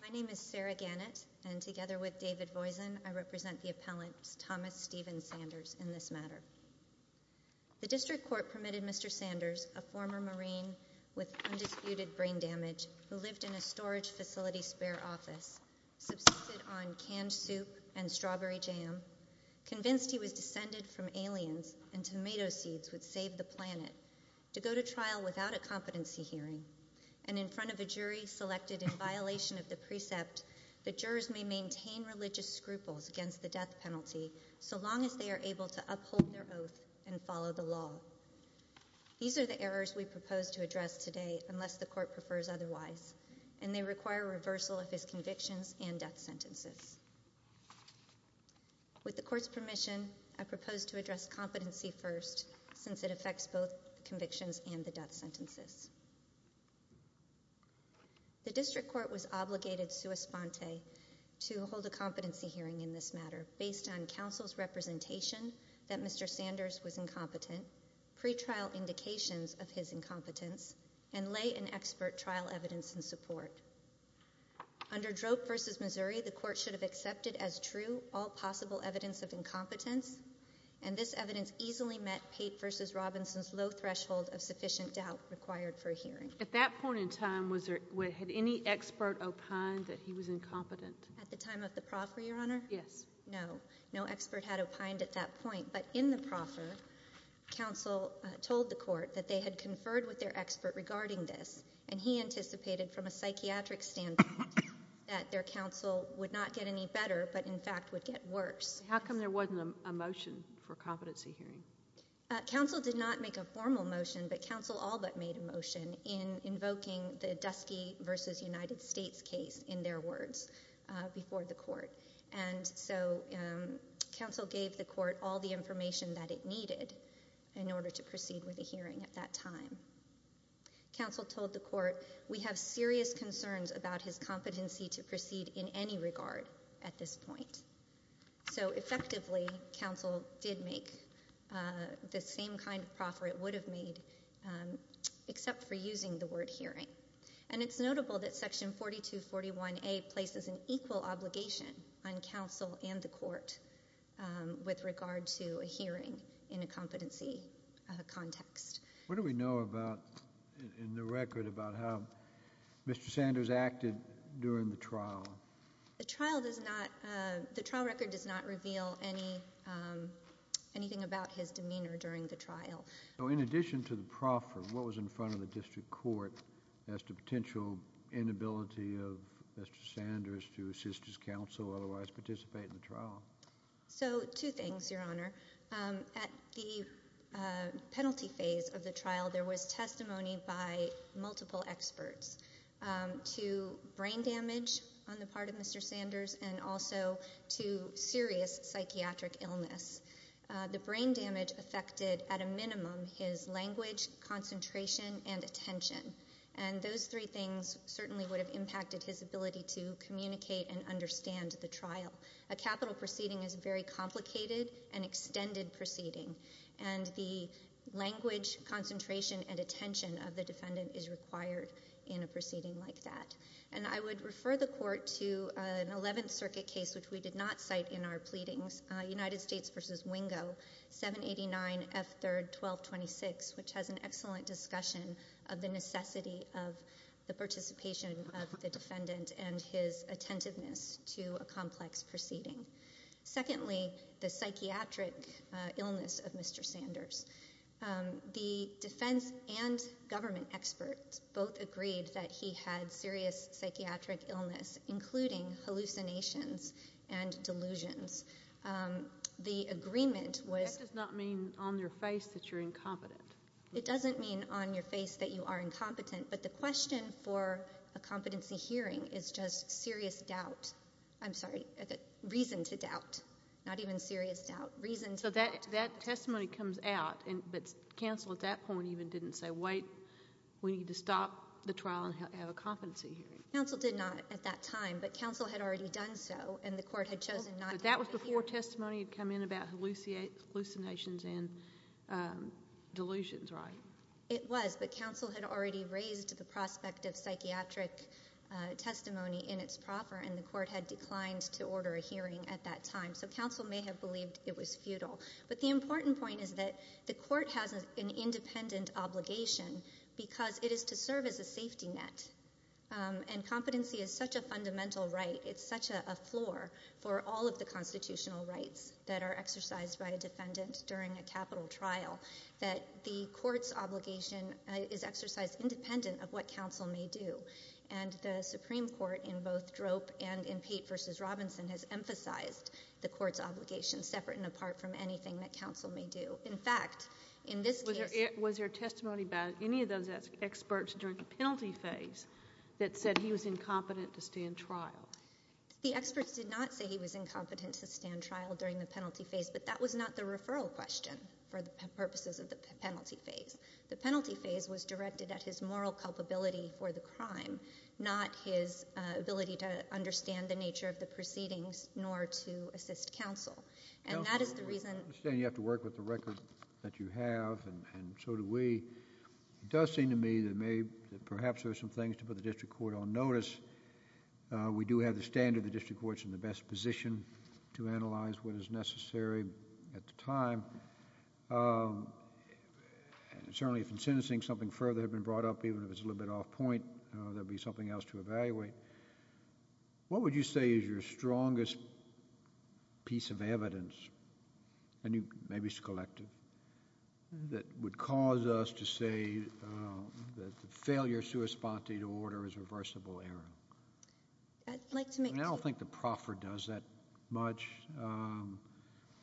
My name is Sarah Gannett, and together with David Voisin, I represent the appellant Thomas Stephen Sanders in this matter. The District Court permitted Mr. Sanders, a former Marine with undisputed brain damage who lived in a storage facility spare office, subsisted on canned soup and strawberry jam, convinced he was descended from aliens and tomato seeds would save the planet, to go to trial without a competency hearing, and in front of a jury selected in violation of the precept, the jurors may maintain religious scruples against the death penalty so long as they are able to uphold their oath and follow the law. These are the errors we propose to address today, unless the Court prefers otherwise, and they require reversal of his convictions and death sentences. With the Court's permission, I propose to address competency first, since it affects both convictions and the death sentences. The District Court was obligated sua sponte to hold a competency hearing in this matter, based on counsel's representation that Mr. Sanders was incompetent, pretrial indications of his incompetence, and lay and expert trial evidence in support. Under Droop v. Missouri, the Court should have accepted as true all possible evidence of incompetence, and this evidence easily met Pate v. Robinson's low threshold of sufficient doubt required for a hearing. At that point in time, had any expert opined that he was incompetent? At the time of the proffer, Your Honor? Yes. No. No expert had opined at that point, but in the proffer, counsel told the Court that they had conferred with their expert regarding this, and he anticipated from a psychiatric standpoint that their counsel would not get any better, but in fact would get worse. How come there wasn't a motion for a competency hearing? Counsel did not make a formal motion, but counsel all but made a motion in invoking the Dusky v. United States case, in their words, before the Court. And so counsel gave the Court all the information that it needed in order to proceed with a hearing at that time. Counsel told the Court, we have serious concerns about his competency to proceed in any regard at this point. So effectively, counsel did make the same kind of proffer it would have made, except for using the word hearing. And it's notable that Section 4241A places an equal obligation on counsel and the Court with regard to a hearing in a competency context. What do we know about, in the record, about how Mr. Sanders acted during the trial? The trial record does not reveal anything about his demeanor during the trial. So in addition to the proffer, what was in front of the district court as to potential inability of Mr. Sanders to assist his counsel or otherwise participate in the trial? So two things, Your Honor. At the penalty phase of the trial, there was testimony by multiple experts to brain damage on the part of Mr. Sanders and also to serious psychiatric illness. The brain damage affected, at a minimum, his language, concentration, and attention. And those three things certainly would have impacted his ability to communicate and understand the trial. A capital proceeding is a very complicated and extended proceeding. And the language, concentration, and attention of the defendant is required in a proceeding like that. And I would refer the Court to an Eleventh Circuit case, which we did not cite in our pleadings, United States v. Wingo, 789 F. 3rd 1226, which has an excellent discussion of the necessity of the participation of the defendant and his attentiveness to a complex proceeding. Secondly, the psychiatric illness of Mr. Sanders. The defense and government experts both agreed that he had serious psychiatric illness, including hallucinations and delusions. The agreement was- That does not mean on your face that you're incompetent. It doesn't mean on your face that you are incompetent, but the question for a competency hearing is just serious doubt. I'm sorry, reason to doubt, not even serious doubt, reason to doubt. So that testimony comes out, but counsel at that point even didn't say, wait, we need to stop the trial and have a competency hearing. Counsel did not at that time, but counsel had already done so, and the Court had chosen not- But that was before testimony had come in about hallucinations and delusions, right? It was, but counsel had already raised the prospect of psychiatric testimony in its proffer, and the Court had declined to order a hearing at that time. So counsel may have believed it was futile. But the important point is that the Court has an independent obligation because it is to serve as a safety net, and competency is such a fundamental right, it's such a floor for all of the constitutional rights that are exercised by a defendant during a capital trial, that the Court's obligation is exercised independent of what counsel may do. And the Supreme Court in both Drope and in Pate v. Robinson has emphasized the Court's obligation separate and apart from anything that counsel may do. In fact, in this case- Was there testimony about any of those experts during the penalty phase that said he was incompetent to stand trial? The experts did not say he was incompetent to stand trial during the penalty phase, but that was not the referral question for the purposes of the penalty phase. The penalty phase was directed at his moral culpability for the crime, not his ability to understand the nature of the proceedings, nor to assist counsel. And that is the reason- Counsel, I understand you have to work with the record that you have, and so do we. It does seem to me that perhaps there are some things to put the district court on notice. We do have the standard the district court's in the best position to analyze what is necessary at the time. Certainly, if in sentencing something further had been brought up, even if it's a little bit off point, there would be something else to evaluate. What would you say is your strongest piece of evidence, maybe it's a collective, that would cause us to say that the failure of sua sponte to order is a reversible error? I'd like to make- I don't think the proffer does that much.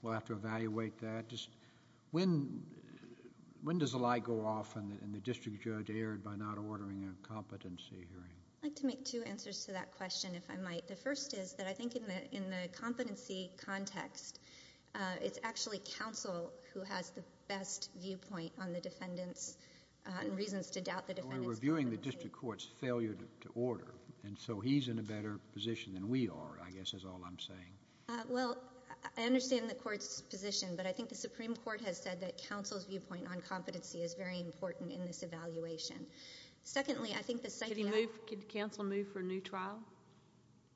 We'll have to evaluate that. When does a lie go off and the district judge erred by not ordering a competency hearing? I'd like to make two answers to that question, if I might. The first is that I think in the competency context, it's actually counsel who has the best viewpoint on the defendant's reasons to doubt the defendant's- We're viewing the district court's failure to order, and so he's in a better position than we are, I guess is all I'm saying. Well, I understand the court's position, but I think the Supreme Court has said that counsel's viewpoint on competency is very important in this evaluation. Secondly, I think the second- Could counsel move for a new trial?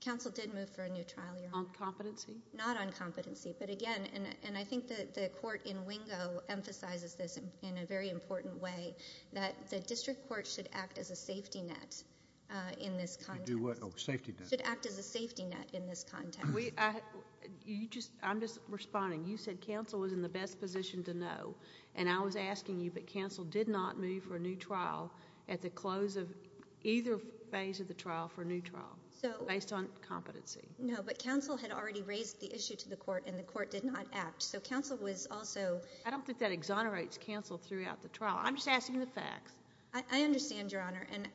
Counsel did move for a new trial, Your Honor. On competency? Not on competency, but again, and I think the court in Wingo emphasizes this in a very important way, that the district court should act as a safety net in this context. Should do what? Oh, safety net. Should act as a safety net in this context. I'm just responding. You said counsel was in the best position to know, and I was asking you, but counsel did not move for a new trial at the close of either phase of the trial for a new trial based on competency. No, but counsel had already raised the issue to the court, and the court did not act, so counsel was also- I don't think that exonerates counsel throughout the trial. I'm just asking the facts. I understand, Your Honor, and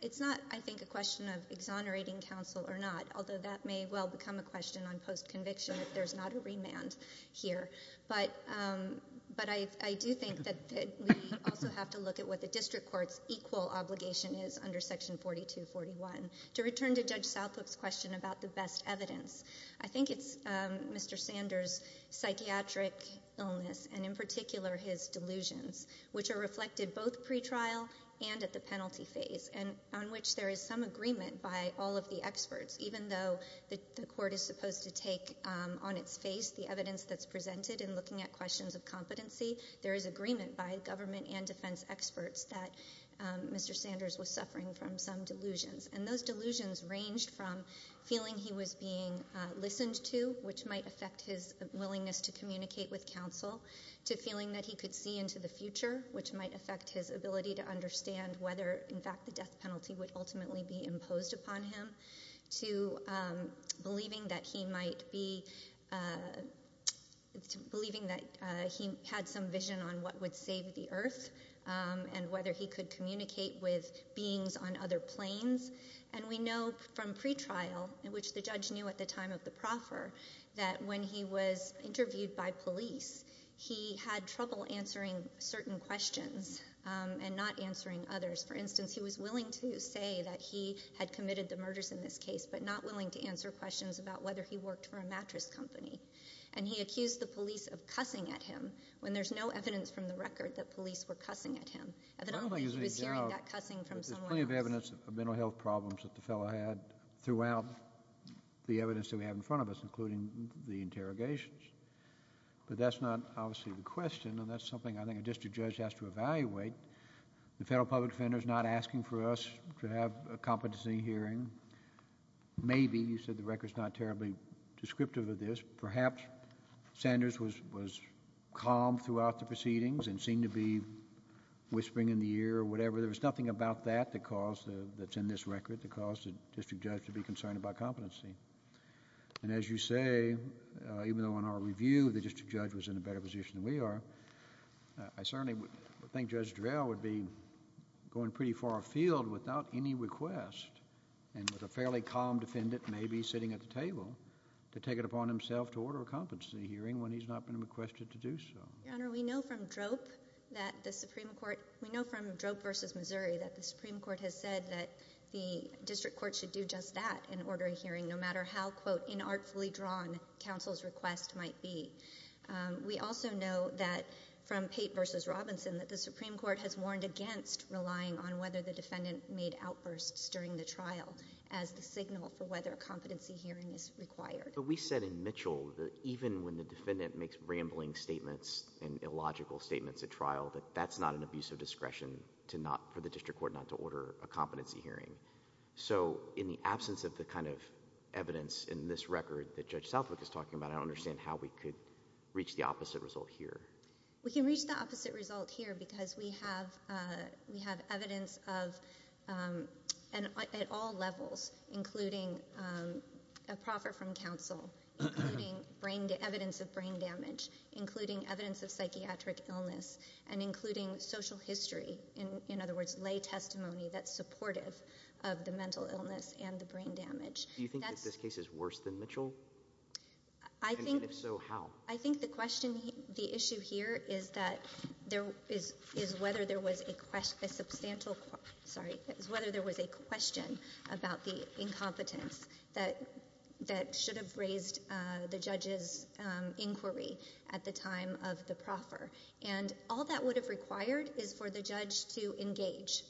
it's not, I think, a question of exonerating counsel or not, although that may well become a question on post-conviction if there's not a remand here. But I do think that we also have to look at what the district court's equal obligation is under Section 4241. To return to Judge Southlip's question about the best evidence, I think it's Mr. Sanders' psychiatric illness, and in particular his delusions, which are reflected both pretrial and at the penalty phase, and on which there is some agreement by all of the experts, even though the court is supposed to take on its face the evidence that's presented in looking at questions of competency, there is agreement by government and defense experts that Mr. Sanders was suffering from some delusions, and those delusions ranged from feeling he was being listened to, which might affect his willingness to communicate with counsel, to feeling that he could see into the future, which might affect his ability to understand whether, in fact, the death penalty would ultimately be imposed upon him, to believing that he had some vision on what would save the earth and whether he could communicate with beings on other planes. And we know from pretrial, which the judge knew at the time of the proffer, that when he was interviewed by police, he had trouble answering certain questions and not answering others. For instance, he was willing to say that he had committed the murders in this case, but not willing to answer questions about whether he worked for a mattress company. And he accused the police of cussing at him when there's no evidence from the record that police were cussing at him. Evidently, he was hearing that cussing from someone else. There's plenty of evidence of mental health problems that the fellow had throughout the evidence that we have in front of us, including the interrogations. But that's not obviously the question, and that's something I think a district judge has to evaluate. The Federal Public Defender is not asking for us to have a competency hearing. Maybe, you said the record's not terribly descriptive of this, perhaps Sanders was calm throughout the proceedings and seemed to be whispering in the ear or whatever. There was nothing about that that's in this record that caused the district judge to be concerned about competency. And as you say, even though in our review the district judge was in a better position than we are, I certainly think Judge Durell would be going pretty far afield without any request, and with a fairly calm defendant maybe sitting at the table, to take it upon himself to order a competency hearing when he's not been requested to do so. Your Honor, we know from DROPE that the Supreme Court – we know from DROPE v. Missouri that the Supreme Court has said that the district court should do just that and order a hearing no matter how, quote, inartfully drawn counsel's request might be. We also know that from Pate v. Robinson that the Supreme Court has warned against relying on whether the defendant made outbursts during the trial as the signal for whether a competency hearing is required. But we said in Mitchell that even when the defendant makes rambling statements and illogical statements at trial, that that's not an abuse of discretion for the district court not to order a competency hearing. So in the absence of the kind of evidence in this record that Judge Southwick is talking about, I don't understand how we could reach the opposite result here. We can reach the opposite result here because we have evidence at all levels, including a proffer from counsel, including evidence of brain damage, including evidence of psychiatric illness, and including social history, in other words, lay testimony that's supportive of the mental illness and the brain damage. Do you think that this case is worse than Mitchell? I think – And if so, how? I think the question – the issue here is that there – is whether there was a question – a substantial – sorry – is whether there was a question about the incompetence that should have raised the judge's inquiry at the time of the proffer. And all that would have required is for the judge to engage,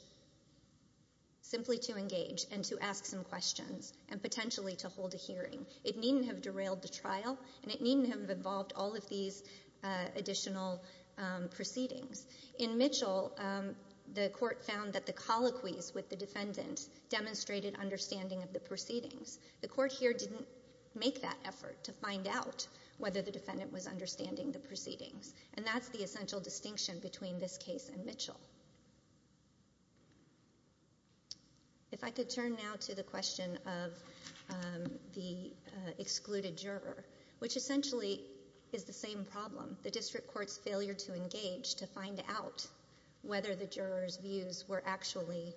simply to engage and to ask some questions, and potentially to hold a hearing. It needn't have derailed the trial, and it needn't have involved all of these additional proceedings. In Mitchell, the court found that the colloquies with the defendant demonstrated understanding of the proceedings. The court here didn't make that effort to find out whether the defendant was understanding the proceedings. And that's the essential distinction between this case and Mitchell. If I could turn now to the question of the excluded juror, which essentially is the same problem, the district court's failure to engage to find out whether the juror's views were actually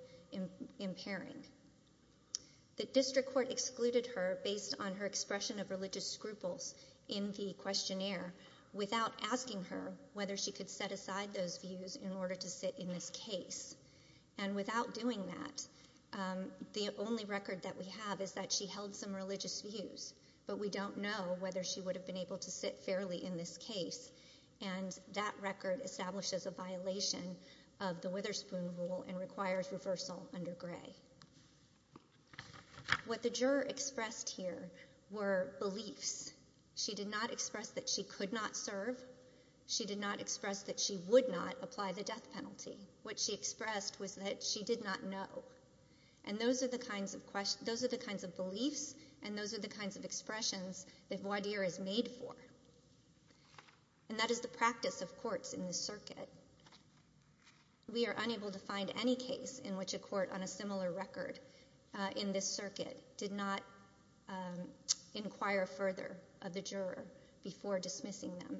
impairing. The district court excluded her based on her expression of religious scruples in the questionnaire without asking her whether she could set aside those views in order to sit in this case. And without doing that, the only record that we have is that she held some religious views, but we don't know whether she would have been able to sit fairly in this case. And that record establishes a violation of the Witherspoon Rule and requires reversal under Gray. What the juror expressed here were beliefs. She did not express that she could not serve. She did not express that she would not apply the death penalty. What she expressed was that she did not know. And those are the kinds of beliefs and those are the kinds of expressions that voir dire is made for. And that is the practice of courts in this circuit. We are unable to find any case in which a court on a similar record in this circuit did not inquire further of the juror before dismissing them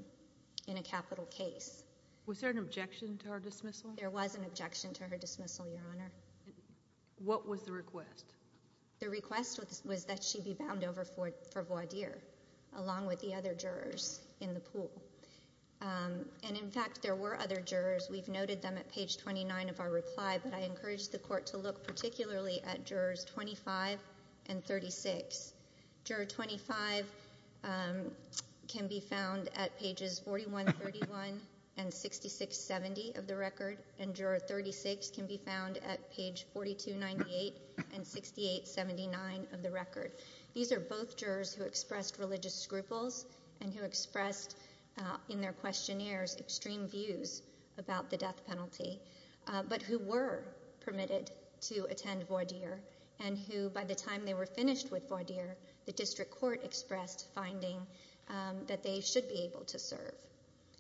in a capital case. Was there an objection to her dismissal? There was an objection to her dismissal, Your Honor. What was the request? The request was that she be bound over for voir dire along with the other jurors in the pool. And, in fact, there were other jurors. We've noted them at page 29 of our reply, but I encourage the court to look particularly at jurors 25 and 36. Juror 25 can be found at pages 41, 31, and 66, 70 of the record, and juror 36 can be found at page 42, 98, and 68, 79 of the record. These are both jurors who expressed religious scruples and who expressed in their questionnaires extreme views about the death penalty, but who were permitted to attend voir dire and who, by the time they were finished with voir dire, the district court expressed finding that they should be able to serve.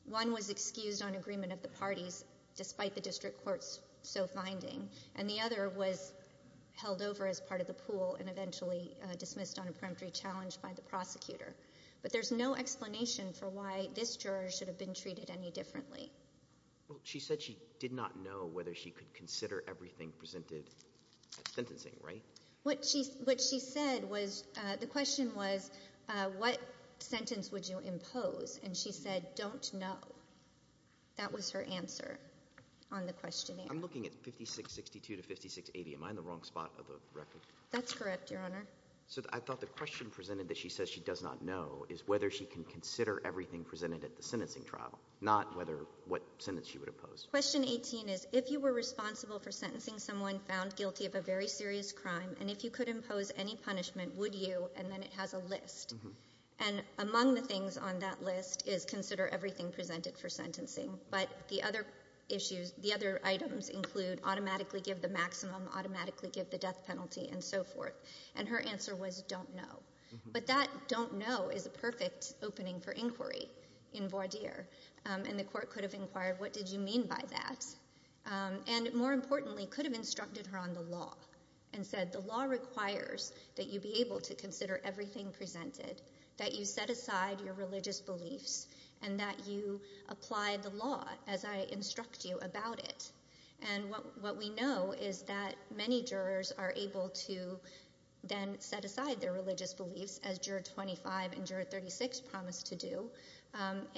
One was excused on agreement of the parties despite the district court's so finding, and the other was held over as part of the pool and eventually dismissed on a peremptory challenge by the prosecutor. But there's no explanation for why this juror should have been treated any differently. Well, she said she did not know whether she could consider everything presented at sentencing, right? What she said was, the question was, what sentence would you impose? And she said, don't know. That was her answer on the questionnaire. I'm looking at 5662 to 5680. Am I in the wrong spot of the record? That's correct, Your Honor. So I thought the question presented that she says she does not know is whether she can consider everything presented at the sentencing trial, not what sentence she would impose. Question 18 is, if you were responsible for sentencing someone found guilty of a very serious crime and if you could impose any punishment, would you? And then it has a list. And among the things on that list is consider everything presented for sentencing. But the other items include automatically give the maximum, automatically give the death penalty, and so forth. And her answer was, don't know. But that don't know is a perfect opening for inquiry in voir dire. And the court could have inquired, what did you mean by that? And more importantly, could have instructed her on the law and said, the law requires that you be able to consider everything presented, that you set aside your religious beliefs, and that you apply the law as I instruct you about it. And what we know is that many jurors are able to then set aside their religious beliefs, as Juror 25 and Juror 36 promised to do.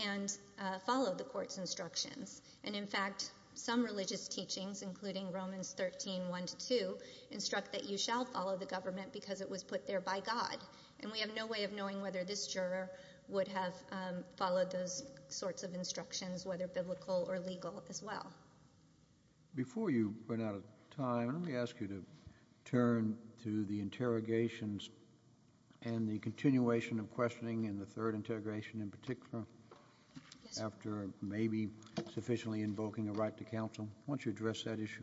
And follow the court's instructions. And, in fact, some religious teachings, including Romans 13, 1 to 2, instruct that you shall follow the government because it was put there by God. And we have no way of knowing whether this juror would have followed those sorts of instructions, whether biblical or legal, as well. Before you run out of time, let me ask you to turn to the interrogations and the continuation of questioning in the third interrogation in particular, after maybe sufficiently invoking a right to counsel. Why don't you address that issue?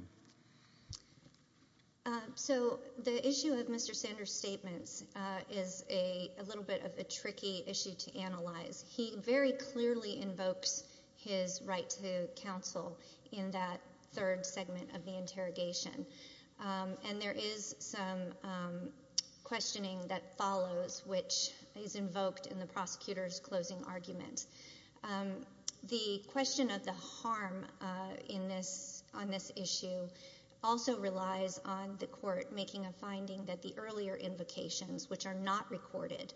So the issue of Mr. Sanders' statements is a little bit of a tricky issue to analyze. He very clearly invokes his right to counsel in that third segment of the interrogation. And there is some questioning that follows, which is invoked in the prosecutor's closing argument. The question of the harm on this issue also relies on the court making a finding that the earlier invocations, which are not recorded,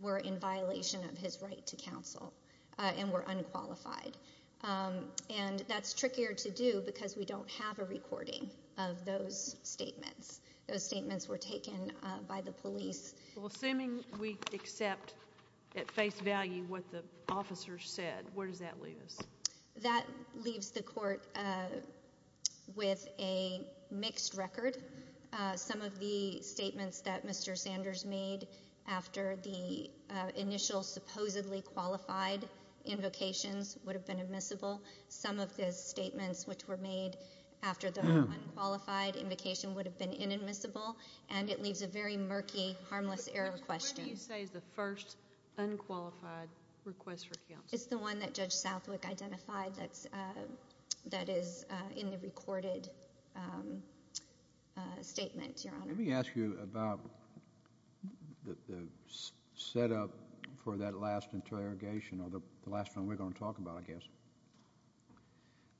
were in violation of his right to counsel and were unqualified. And that's trickier to do because we don't have a recording of those statements. Those statements were taken by the police. Well, assuming we accept at face value what the officers said, where does that leave us? That leaves the court with a mixed record. Some of the statements that Mr. Sanders made after the initial supposedly qualified invocations would have been admissible. Some of the statements which were made after the unqualified invocation would have been inadmissible. And it leaves a very murky, harmless error question. What do you say is the first unqualified request for counsel? It's the one that Judge Southwick identified that is in the recorded statement, Your Honor. Let me ask you about the setup for that last interrogation, or the last one we're going to talk about, I guess.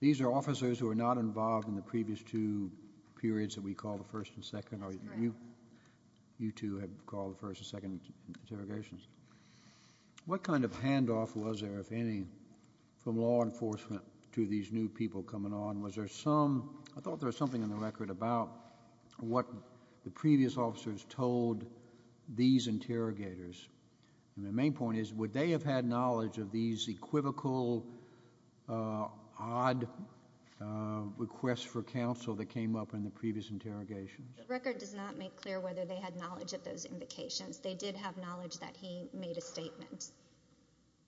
These are officers who are not involved in the previous two periods that we call the first and second, or you two have called the first and second interrogations. What kind of handoff was there, if any, from law enforcement to these new people coming on? I thought there was something in the record about what the previous officers told these interrogators. And the main point is would they have had knowledge of these equivocal, odd requests for counsel that came up in the previous interrogations? The record does not make clear whether they had knowledge of those invocations. They did have knowledge that he made a statement.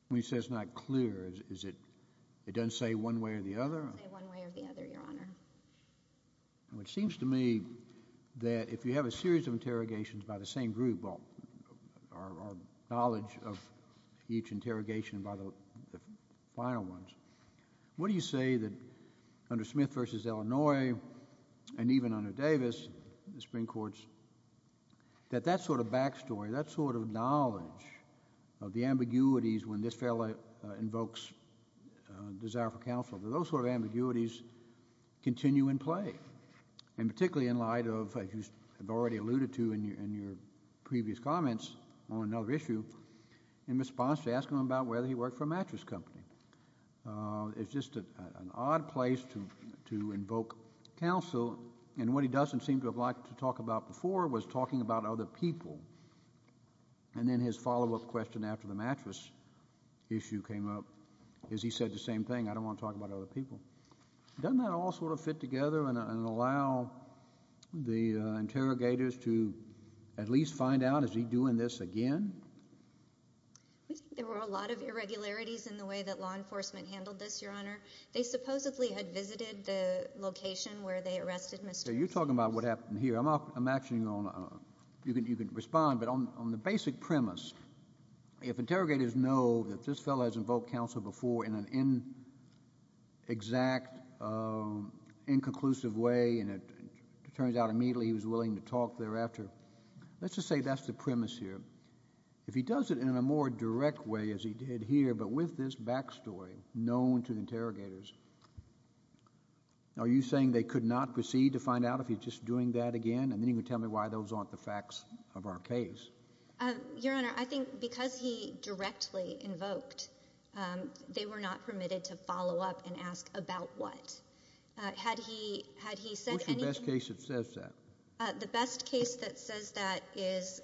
When you say it's not clear, it doesn't say one way or the other? It doesn't say one way or the other, Your Honor. It seems to me that if you have a series of interrogations by the same group, or knowledge of each interrogation by the final ones, what do you say that under Smith v. Illinois and even under Davis, the Supreme Courts, that that sort of backstory, that sort of knowledge of the ambiguities when this fellow invokes desire for counsel, that those sort of ambiguities continue in play, and particularly in light of, as you have already alluded to in your previous comments on another issue, in response to asking him about whether he worked for a mattress company. It's just an odd place to invoke counsel. And what he doesn't seem to have liked to talk about before was talking about other people. And then his follow-up question after the mattress issue came up is he said the same thing. I don't want to talk about other people. Doesn't that all sort of fit together and allow the interrogators to at least find out is he doing this again? We think there were a lot of irregularities in the way that law enforcement handled this, Your Honor. They supposedly had visited the location where they arrested Mr. Smith. So you're talking about what happened here. I'm asking you to respond, but on the basic premise, if interrogators know that this fellow has invoked counsel before in an exact, inconclusive way, and it turns out immediately he was willing to talk thereafter, let's just say that's the premise here. If he does it in a more direct way, as he did here, but with this backstory known to interrogators, are you saying they could not proceed to find out if he's just doing that again? And then you can tell me why those aren't the facts of our case. Your Honor, I think because he directly invoked, they were not permitted to follow up and ask about what. Had he said anything? What's the best case that says that? The best case that says that is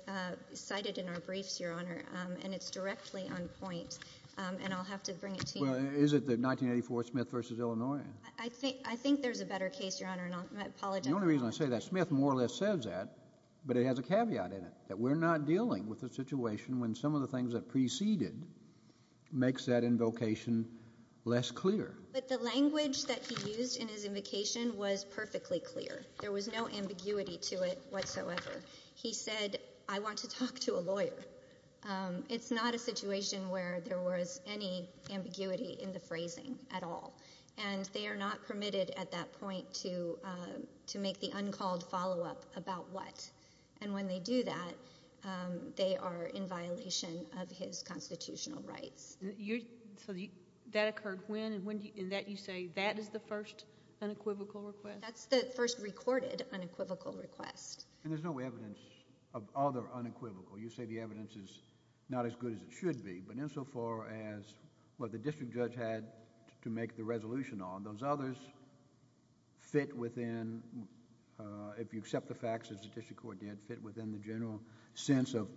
cited in our briefs, Your Honor, and it's directly on point, and I'll have to bring it to you. Well, is it the 1984 Smith v. Illinois? I think there's a better case, Your Honor, and I apologize. The only reason I say that, Smith more or less says that, but it has a caveat in it, that we're not dealing with a situation when some of the things that preceded makes that invocation less clear. But the language that he used in his invocation was perfectly clear. There was no ambiguity to it whatsoever. He said, I want to talk to a lawyer. It's not a situation where there was any ambiguity in the phrasing at all, and they are not permitted at that point to make the uncalled follow-up about what. And when they do that, they are in violation of his constitutional rights. So that occurred when, and that you say that is the first unequivocal request? That's the first recorded unequivocal request. And there's no evidence of other unequivocal. You say the evidence is not as good as it should be, but insofar as what the district judge had to make the resolution on, those others fit within, if you accept the facts as the district court did, fit within the general sense of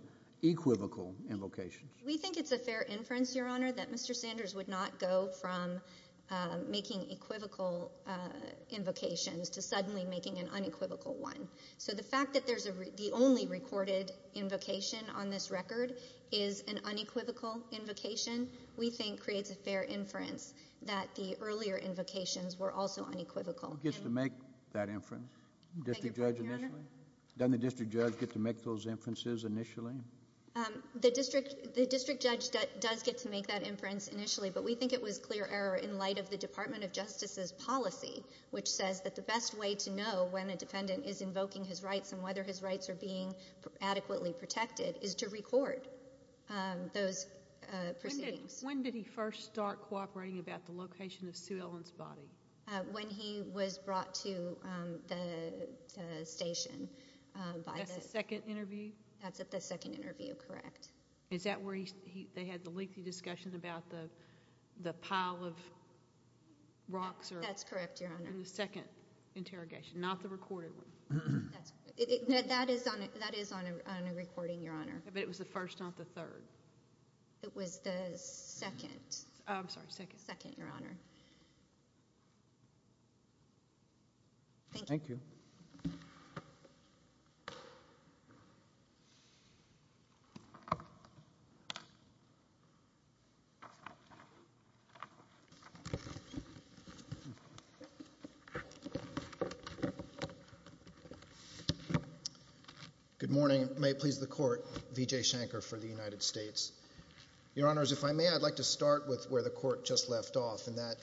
equivocal invocations. We think it's a fair inference, Your Honor, that Mr. Sanders would not go from making equivocal invocations to suddenly making an unequivocal one. So the fact that there's the only recorded invocation on this record is an unequivocal invocation, we think creates a fair inference that the earlier invocations were also unequivocal. Who gets to make that inference? District judge initially? Doesn't the district judge get to make those inferences initially? The district judge does get to make that inference initially, but we think it was clear error in light of the Department of Justice's policy, which says that the best way to know when a defendant is invoking his rights and whether his rights are being adequately protected is to record those proceedings. When did he first start cooperating about the location of Sue Ellen's body? When he was brought to the station. That's at the second interview? That's at the second interview, correct. Is that where they had the lengthy discussion about the pile of rocks? That's correct, Your Honor. In the second interrogation, not the recorded one. That is on a recording, Your Honor. But it was the first, not the third. It was the second. I'm sorry, second. Second, Your Honor. Thank you. Thank you. Good morning. May it please the Court. V.J. Shanker for the United States. Your Honors, if I may, I'd like to start with where the Court just left off, and that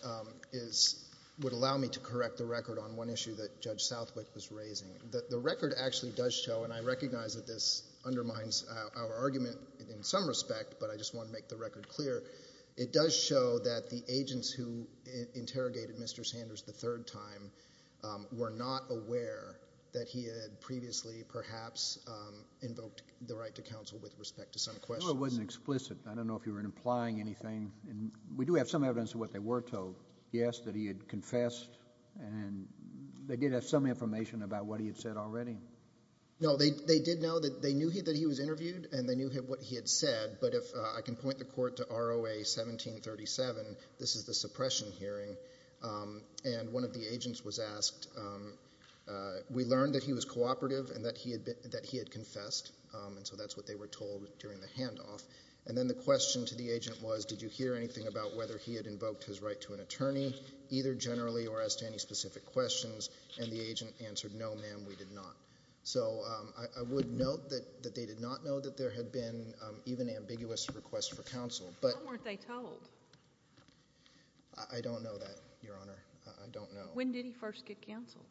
would allow me to correct the record on one issue that Judge Southwick was raising. The record actually does show, and I recognize that this undermines our argument in some respect, but I just want to make the record clear. It does show that the agents who interrogated Mr. Shanker and Mr. Sanders the third time were not aware that he had previously perhaps invoked the right to counsel with respect to some questions. No, it wasn't explicit. I don't know if you were implying anything. We do have some evidence of what they were told. Yes, that he had confessed, and they did have some information about what he had said already. No, they did know that he was interviewed and they knew what he had said, but if I can point the Court to ROA 1737, this is the suppression hearing, and one of the agents was asked, we learned that he was cooperative and that he had confessed, and so that's what they were told during the handoff. And then the question to the agent was, did you hear anything about whether he had invoked his right to an attorney, either generally or as to any specific questions, and the agent answered, no, ma'am, we did not. So I would note that they did not know that there had been even ambiguous requests for counsel. Why weren't they told? I don't know that, Your Honor. I don't know. When did he first get counsel?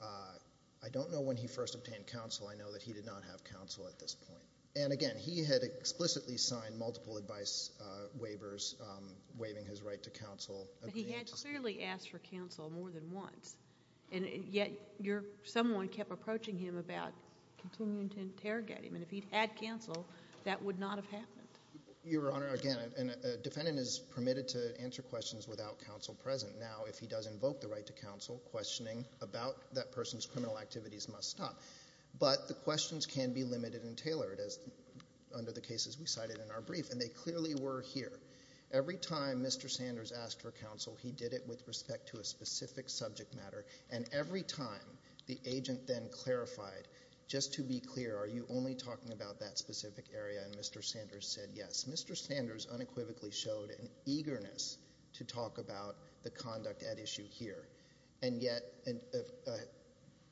I don't know when he first obtained counsel. I know that he did not have counsel at this point. And again, he had explicitly signed multiple advice waivers waiving his right to counsel. But he had clearly asked for counsel more than once, and yet someone kept approaching him about continuing to interrogate him, and if he'd had counsel, that would not have happened. Your Honor, again, a defendant is permitted to answer questions without counsel present. Now, if he does invoke the right to counsel, questioning about that person's criminal activities must stop, but the questions can be limited and tailored under the cases we cited in our brief, and they clearly were here. Every time Mr. Sanders asked for counsel, he did it with respect to a specific subject matter, and every time the agent then clarified, just to be clear, are you only talking about that specific area, and Mr. Sanders said yes. Mr. Sanders unequivocally showed an eagerness to talk about the conduct at issue here, and yet a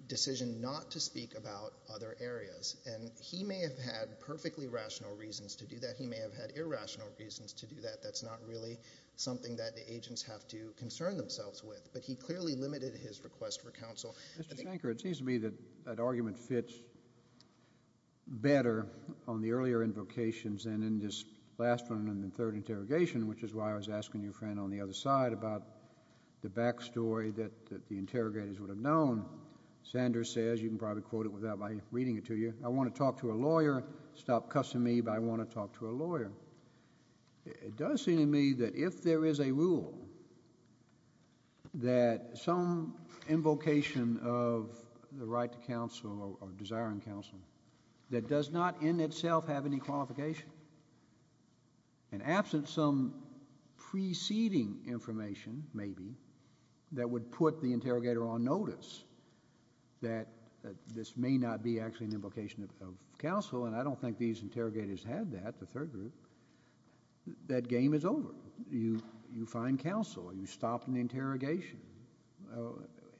decision not to speak about other areas. And he may have had perfectly rational reasons to do that. He may have had irrational reasons to do that. That's not really something that the agents have to concern themselves with, but he clearly limited his request for counsel. Mr. Shanker, it seems to me that that argument fits better on the earlier invocations than in this last one and the third interrogation, which is why I was asking your friend on the other side about the back story that the interrogators would have known. Sanders says, you can probably quote it without my reading it to you, I want to talk to a lawyer, stop cussing me, but I want to talk to a lawyer. It does seem to me that if there is a rule that some invocation of the right to counsel or desiring counsel that does not in itself have any qualification, and absent some preceding information maybe that would put the interrogator on notice that this may not be actually an invocation of counsel, and I don't think these interrogators had that, the third group, that game is over. You find counsel. You stop an interrogation.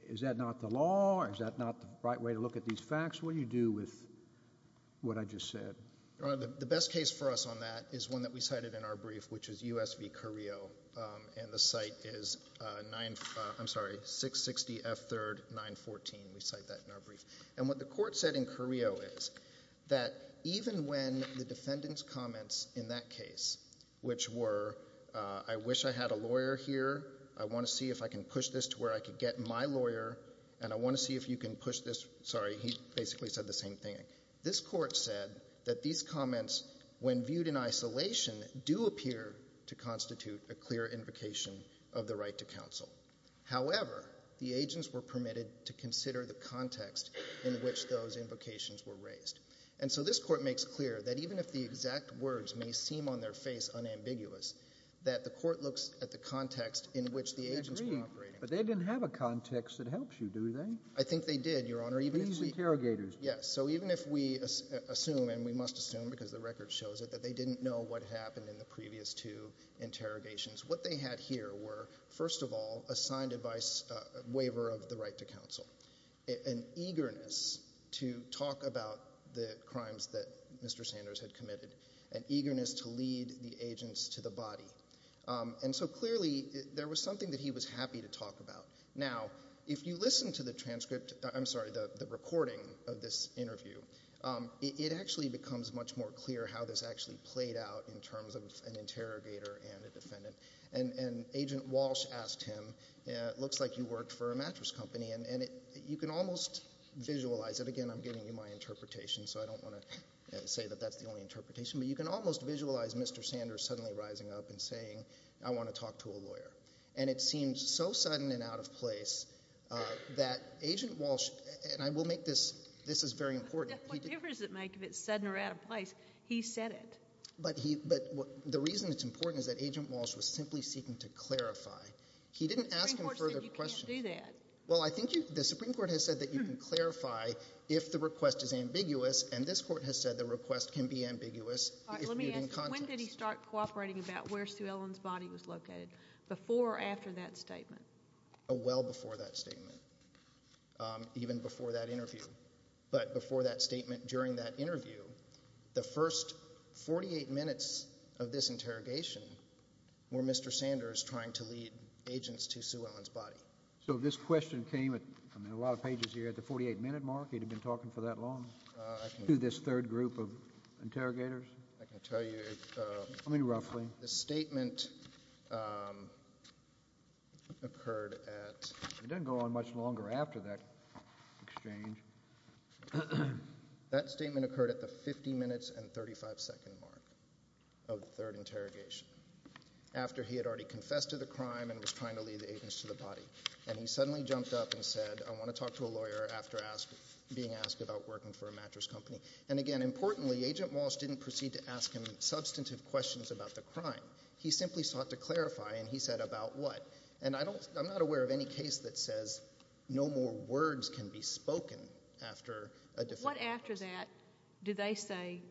Is that not the law? Is that not the right way to look at these facts? What do you do with what I just said? The best case for us on that is one that we cited in our brief, which is U.S. v. Carrillo, and the site is 660 F. 3rd, 914. We cite that in our brief. And what the court said in Carrillo is that even when the defendant's comments in that case, which were I wish I had a lawyer here, I want to see if I can push this to where I can get my lawyer, and I want to see if you can push this, sorry, he basically said the same thing, this court said that these comments, when viewed in isolation, do appear to constitute a clear invocation of the right to counsel. However, the agents were permitted to consider the context in which those invocations were raised. And so this court makes clear that even if the exact words may seem on their face unambiguous, that the court looks at the context in which the agents were operating. But they didn't have a context that helps you, do they? I think they did, Your Honor. These interrogators. Yes. So even if we assume, and we must assume because the record shows it, that they didn't know what happened in the previous two interrogations, what they had here were, first of all, a signed waiver of the right to counsel, an eagerness to talk about the crimes that Mr. Sanders had committed, an eagerness to lead the agents to the body. And so clearly there was something that he was happy to talk about. Now, if you listen to the transcript, I'm sorry, the recording of this interview, it actually becomes much more clear how this actually played out in terms of an interrogator and a defendant. And Agent Walsh asked him, it looks like you worked for a mattress company. And you can almost visualize it. Again, I'm giving you my interpretation, so I don't want to say that that's the only interpretation. But you can almost visualize Mr. Sanders suddenly rising up and saying, I want to talk to a lawyer. And it seemed so sudden and out of place that Agent Walsh, and I will make this, this is very important. What difference does it make if it's sudden or out of place? He said it. But the reason it's important is that Agent Walsh was simply seeking to clarify. He didn't ask him further questions. The Supreme Court said you can't do that. Well, I think the Supreme Court has said that you can clarify if the request is ambiguous, and this Court has said the request can be ambiguous if viewed in context. When did he start cooperating about where Sue Ellen's body was located, before or after that statement? Well before that statement, even before that interview. But before that statement, during that interview, the first 48 minutes of this interrogation were Mr. Sanders trying to lead agents to Sue Ellen's body. So if this question came at, I mean, a lot of pages here at the 48-minute mark, he'd have been talking for that long to this third group of interrogators? I can tell you. I mean, roughly. The statement occurred at — It didn't go on much longer after that exchange. That statement occurred at the 50 minutes and 35-second mark of the third interrogation, after he had already confessed to the crime and was trying to lead the agents to the body. And he suddenly jumped up and said, I want to talk to a lawyer after being asked about working for a mattress company. And, again, importantly, Agent Walsh didn't proceed to ask him substantive questions about the crime. He simply sought to clarify, and he said about what. And I don't — I'm not aware of any case that says no more words can be spoken after a different — What after that do they say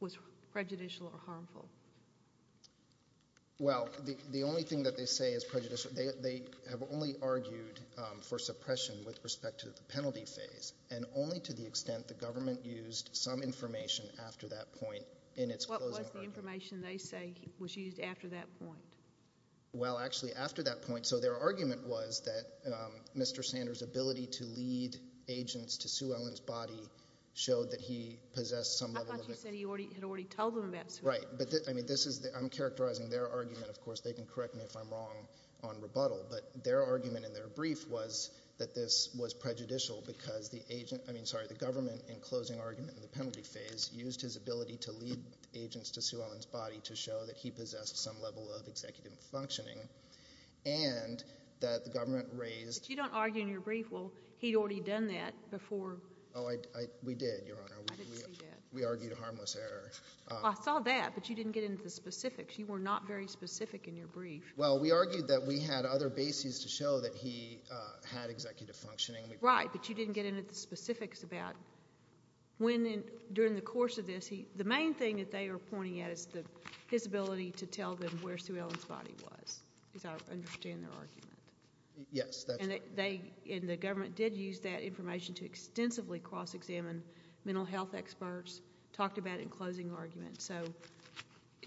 was prejudicial or harmful? Well, the only thing that they say is prejudicial — they have only argued for suppression with respect to the penalty phase, and only to the extent the government used some information after that point in its closing argument. What was the information they say was used after that point? Well, actually, after that point — so their argument was that Mr. Sanders' ability to lead agents to Sue Ellen's body showed that he possessed some level of — I thought you said he had already told them about Sue Ellen. Right. But, I mean, this is — I'm characterizing their argument. Of course, they can correct me if I'm wrong on rebuttal. But their argument in their brief was that this was prejudicial because the agent — I mean, sorry, the government, in closing argument in the penalty phase, used his ability to lead agents to Sue Ellen's body to show that he possessed some level of executive functioning, and that the government raised — But you don't argue in your brief, well, he'd already done that before — Oh, I — we did, Your Honor. I didn't see that. We argued a harmless error. Well, I saw that, but you didn't get into the specifics. You were not very specific in your brief. Well, we argued that we had other bases to show that he had executive functioning. Right, but you didn't get into the specifics about when in — during the course of this, the main thing that they were pointing at is his ability to tell them where Sue Ellen's body was, because I don't understand their argument. Yes, that's right. And they — and the government did use that information to extensively cross-examine mental health experts, talked about it in closing argument. So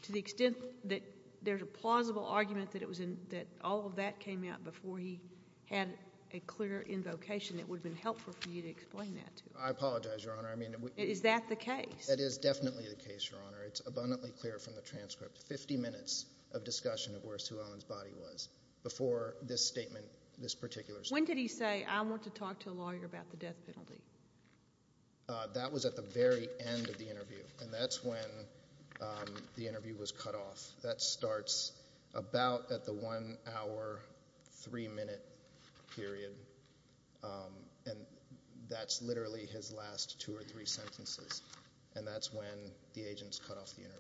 to the extent that there's a plausible argument that it was in — that all of that came out before he had a clear invocation, it would have been helpful for you to explain that to us. I apologize, Your Honor. I mean — Is that the case? That is definitely the case, Your Honor. It's abundantly clear from the transcript. Fifty minutes of discussion of where Sue Ellen's body was before this statement, this particular statement. When did he say, I want to talk to a lawyer about the death penalty? That was at the very end of the interview. And that's when the interview was cut off. That starts about at the one-hour, three-minute period. And that's literally his last two or three sentences. And that's when the agents cut off the interview.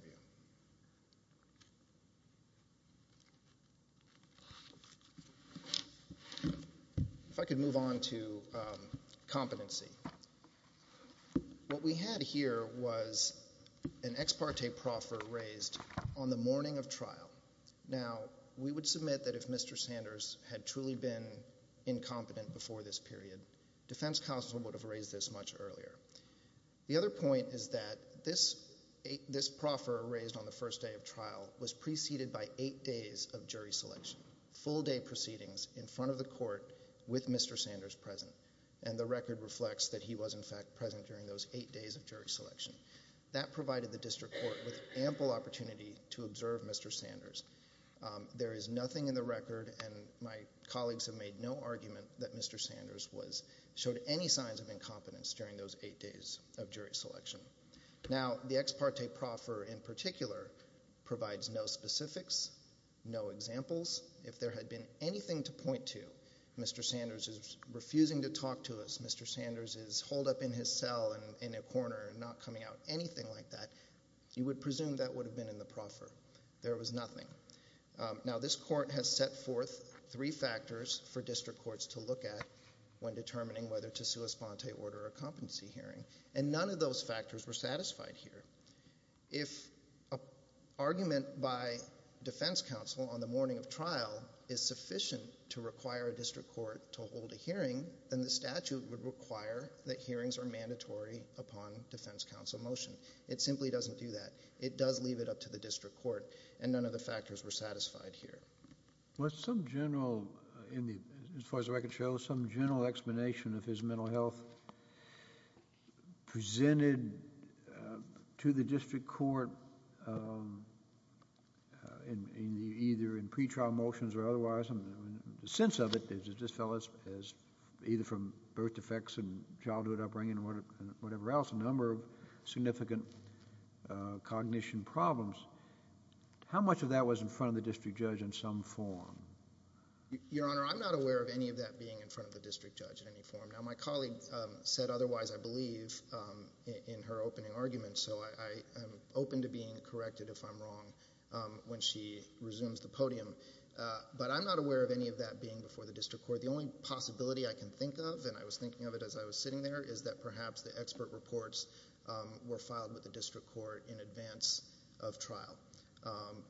If I could move on to competency. What we had here was an ex parte proffer raised on the morning of trial. Now, we would submit that if Mr. Sanders had truly been incompetent before this period, defense counsel would have raised this much earlier. The other point is that this proffer raised on the first day of trial was preceded by eight days of jury selection, full-day proceedings in front of the court with Mr. Sanders present. And the record reflects that he was, in fact, present during those eight days of jury selection. That provided the district court with ample opportunity to observe Mr. Sanders. There is nothing in the record, and my colleagues have made no argument, that Mr. Sanders showed any signs of incompetence during those eight days of jury selection. Now, the ex parte proffer in particular provides no specifics, no examples. If there had been anything to point to, Mr. Sanders is refusing to talk to us, Mr. Sanders is holed up in his cell in a corner and not coming out, anything like that, you would presume that would have been in the proffer. There was nothing. Now, this court has set forth three factors for district courts to look at when determining whether to sue a sponte order or competency hearing, and none of those factors were satisfied here. If an argument by defense counsel on the morning of trial is sufficient to require a district court to hold a hearing, then the statute would require that hearings are mandatory upon defense counsel motion. It simply doesn't do that. It does leave it up to the district court, and none of the factors were satisfied here. Was some general, as far as the record shows, some general explanation of his mental health presented to the district court either in pretrial motions or otherwise. The sense of it just fell as either from birth defects and childhood upbringing or whatever else, a number of significant cognition problems. How much of that was in front of the district judge in some form? Your Honor, I'm not aware of any of that being in front of the district judge in any form. Now, my colleague said otherwise, I believe, in her opening argument, so I am open to being corrected if I'm wrong when she resumes the podium. But I'm not aware of any of that being before the district court. The only possibility I can think of, and I was thinking of it as I was sitting there, is that perhaps the expert reports were filed with the district court in advance of trial,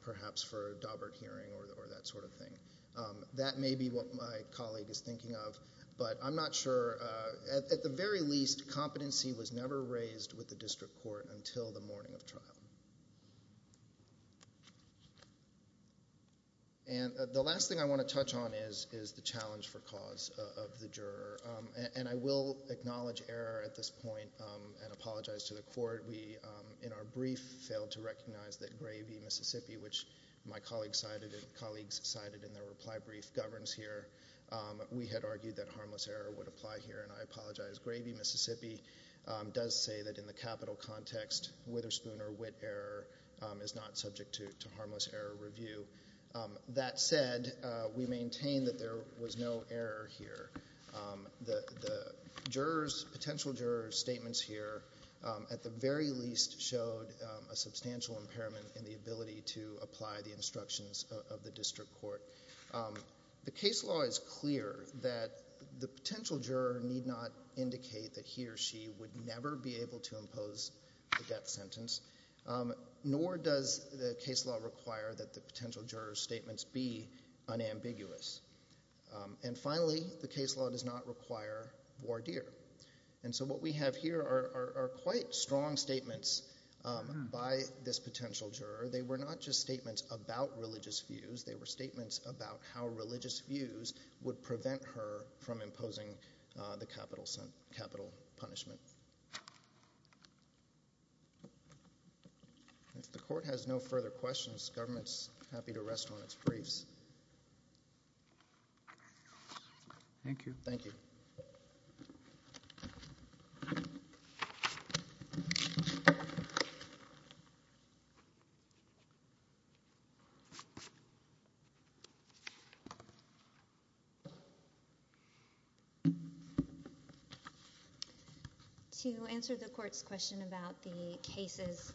perhaps for a Daubert hearing or that sort of thing. That may be what my colleague is thinking of, but I'm not sure. At the very least, competency was never raised with the district court until the morning of trial. The last thing I want to touch on is the challenge for cause of the juror, and I will acknowledge error at this point and apologize to the court. We, in our brief, failed to recognize that Gravey, Mississippi, which my colleagues cited in their reply brief, governs here. We had argued that harmless error would apply here, and I apologize. Gravey, Mississippi does say that in the capital context, Witherspoon or Witt error is not subject to harmless error review. That said, we maintain that there was no error here. The potential juror's statements here, at the very least, showed a substantial impairment in the ability to apply the instructions of the district court. The case law is clear that the potential juror need not indicate that he or she would never be able to impose the death sentence, nor does the case law require that the potential juror's statements be unambiguous. And finally, the case law does not require voir dire. And so what we have here are quite strong statements by this potential juror. They were not just statements about religious views. They were statements about how religious views would prevent her from imposing the capital punishment. If the court has no further questions, government's happy to rest on its briefs. Thank you. Thank you. To answer the court's question about the cases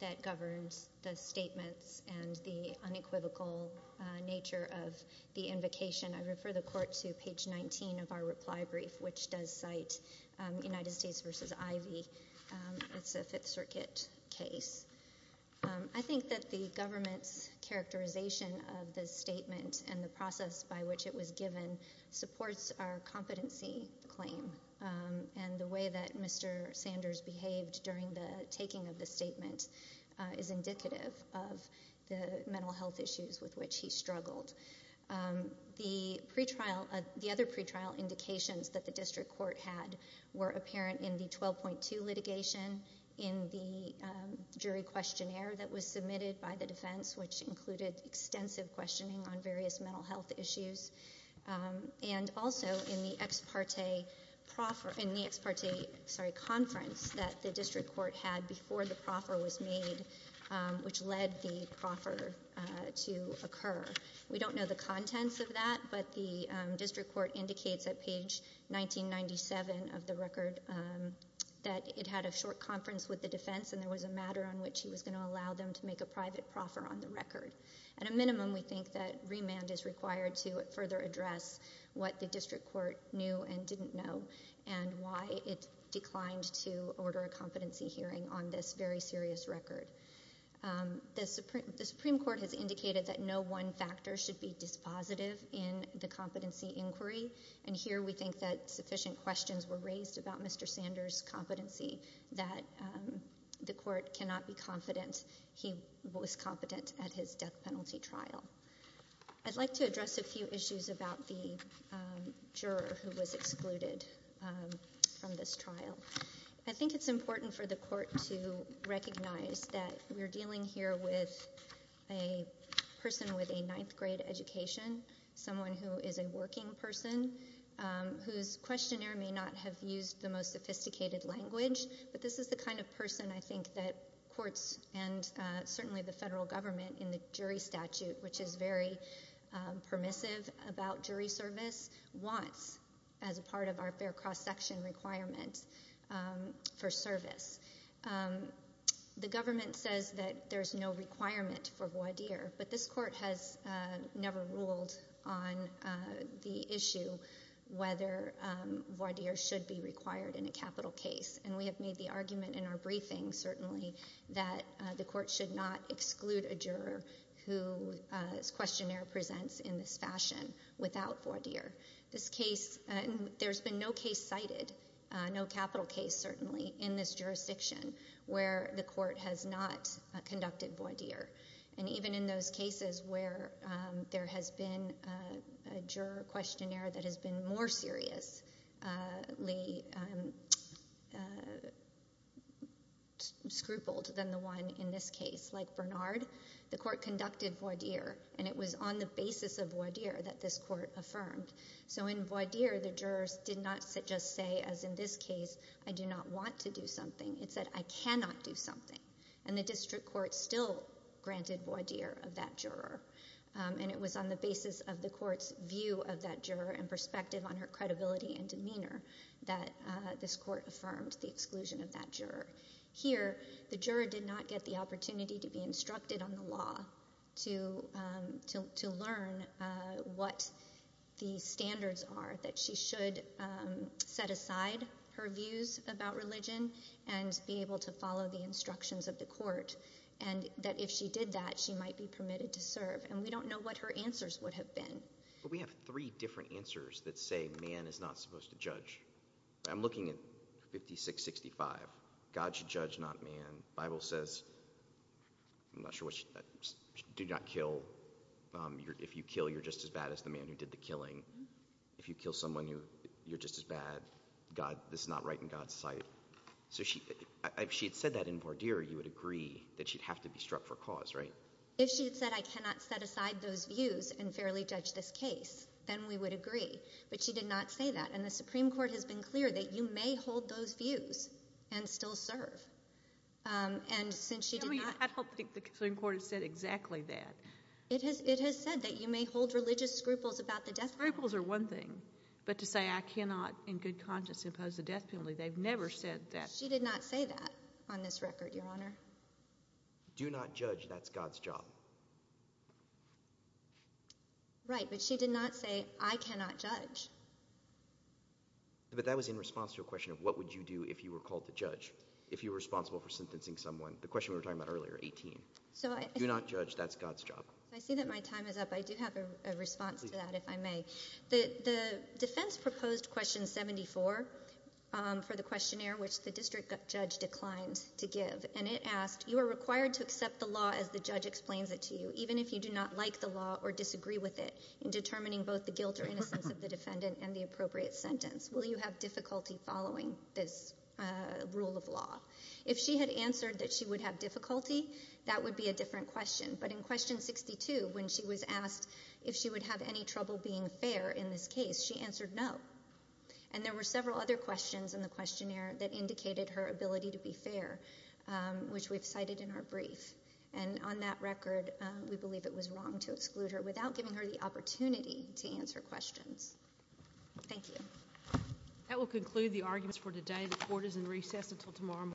that governs the statements and the unequivocal nature of the invocation, I refer the court to page 19 of our reply brief, which does cite United States versus Ivy. It's a Fifth Circuit case. I think that the government's characterization of the statement and the process by which it was given supports our competency claim. And the way that Mr. Sanders behaved during the taking of the statement is indicative of the mental health issues with which he struggled. The pre-trial, the other pre-trial indications that the district court had were apparent in the 12.2 litigation, in the jury questionnaire that was submitted by the defense, which included extensive questioning on various mental health issues, and also in the ex parte conference that the district court had before the proffer was made, which led the proffer to occur. We don't know the contents of that, but the district court indicates at page 1997 of the record that it had a short conference with the defense and there was a matter on which he was going to allow them to make a private proffer on the record. At a minimum, we think that remand is required to further address what the district court knew and didn't know and why it declined to order a competency hearing on this very serious record. The Supreme Court has indicated that no one factor should be dispositive in the competency inquiry, and here we think that sufficient questions were raised about Mr. Sanders' competency, that the court cannot be confident he was competent at his death penalty trial. I'd like to address a few issues about the juror who was excluded from this trial. I think it's important for the court to recognize that we're dealing here with a person with a ninth grade education, someone who is a working person whose questionnaire may not have used the most sophisticated language, but this is the kind of person I think that courts and certainly the federal government in the jury statute, which is very permissive about jury service, wants as a part of our fair cross-section requirements for service. The government says that there's no requirement for voir dire, but this court has never ruled on the issue whether voir dire should be required in a capital case, and we have made the argument in our briefing certainly that the court should not exclude a juror whose questionnaire presents in this fashion without voir dire. There's been no case cited, no capital case certainly, in this jurisdiction where the court has not conducted voir dire, and even in those cases where there has been a juror questionnaire that has been more seriously scrupled than the one in this case, like Bernard, the court conducted voir dire, and it was on the basis of voir dire that this court affirmed. So in voir dire, the jurors did not just say, as in this case, I do not want to do something. It said I cannot do something, and the district court still granted voir dire of that juror, and it was on the basis of the court's view of that juror and perspective on her credibility and demeanor that this court affirmed the exclusion of that juror. Here, the juror did not get the opportunity to be instructed on the law to learn what the standards are, that she should set aside her views about religion and be able to follow the instructions of the court, and that if she did that, she might be permitted to serve, and we don't know what her answers would have been. But we have three different answers that say man is not supposed to judge. I'm looking at 5665. God should judge, not man. The Bible says do not kill. If you kill, you're just as bad as the man who did the killing. If you kill someone, you're just as bad. This is not right in God's sight. So if she had said that in voir dire, you would agree that she'd have to be struck for cause, right? If she had said I cannot set aside those views and fairly judge this case, then we would agree, but she did not say that, and the Supreme Court has been clear that you may hold those views and still serve. And since she did not – I don't think the Supreme Court has said exactly that. It has said that you may hold religious scruples about the death penalty. Scruples are one thing, but to say I cannot in good conscience impose the death penalty, they've never said that. She did not say that on this record, Your Honor. Do not judge. That's God's job. Right, but she did not say I cannot judge. But that was in response to a question of what would you do if you were called to judge, if you were responsible for sentencing someone, the question we were talking about earlier, 18. Do not judge. That's God's job. I see that my time is up. I do have a response to that, if I may. The defense proposed question 74 for the questionnaire, which the district judge declined to give, and it asked, You are required to accept the law as the judge explains it to you, even if you do not like the law or disagree with it in determining both the guilt or innocence of the defendant and the appropriate sentence. Will you have difficulty following this rule of law? If she had answered that she would have difficulty, that would be a different question. But in question 62, when she was asked if she would have any trouble being fair in this case, she answered no. And there were several other questions in the questionnaire that indicated her ability to be fair, which we've cited in our brief. And on that record, we believe it was wrong to exclude her without giving her the opportunity to answer questions. Thank you. That will conclude the arguments for today. The court is in recess until tomorrow morning.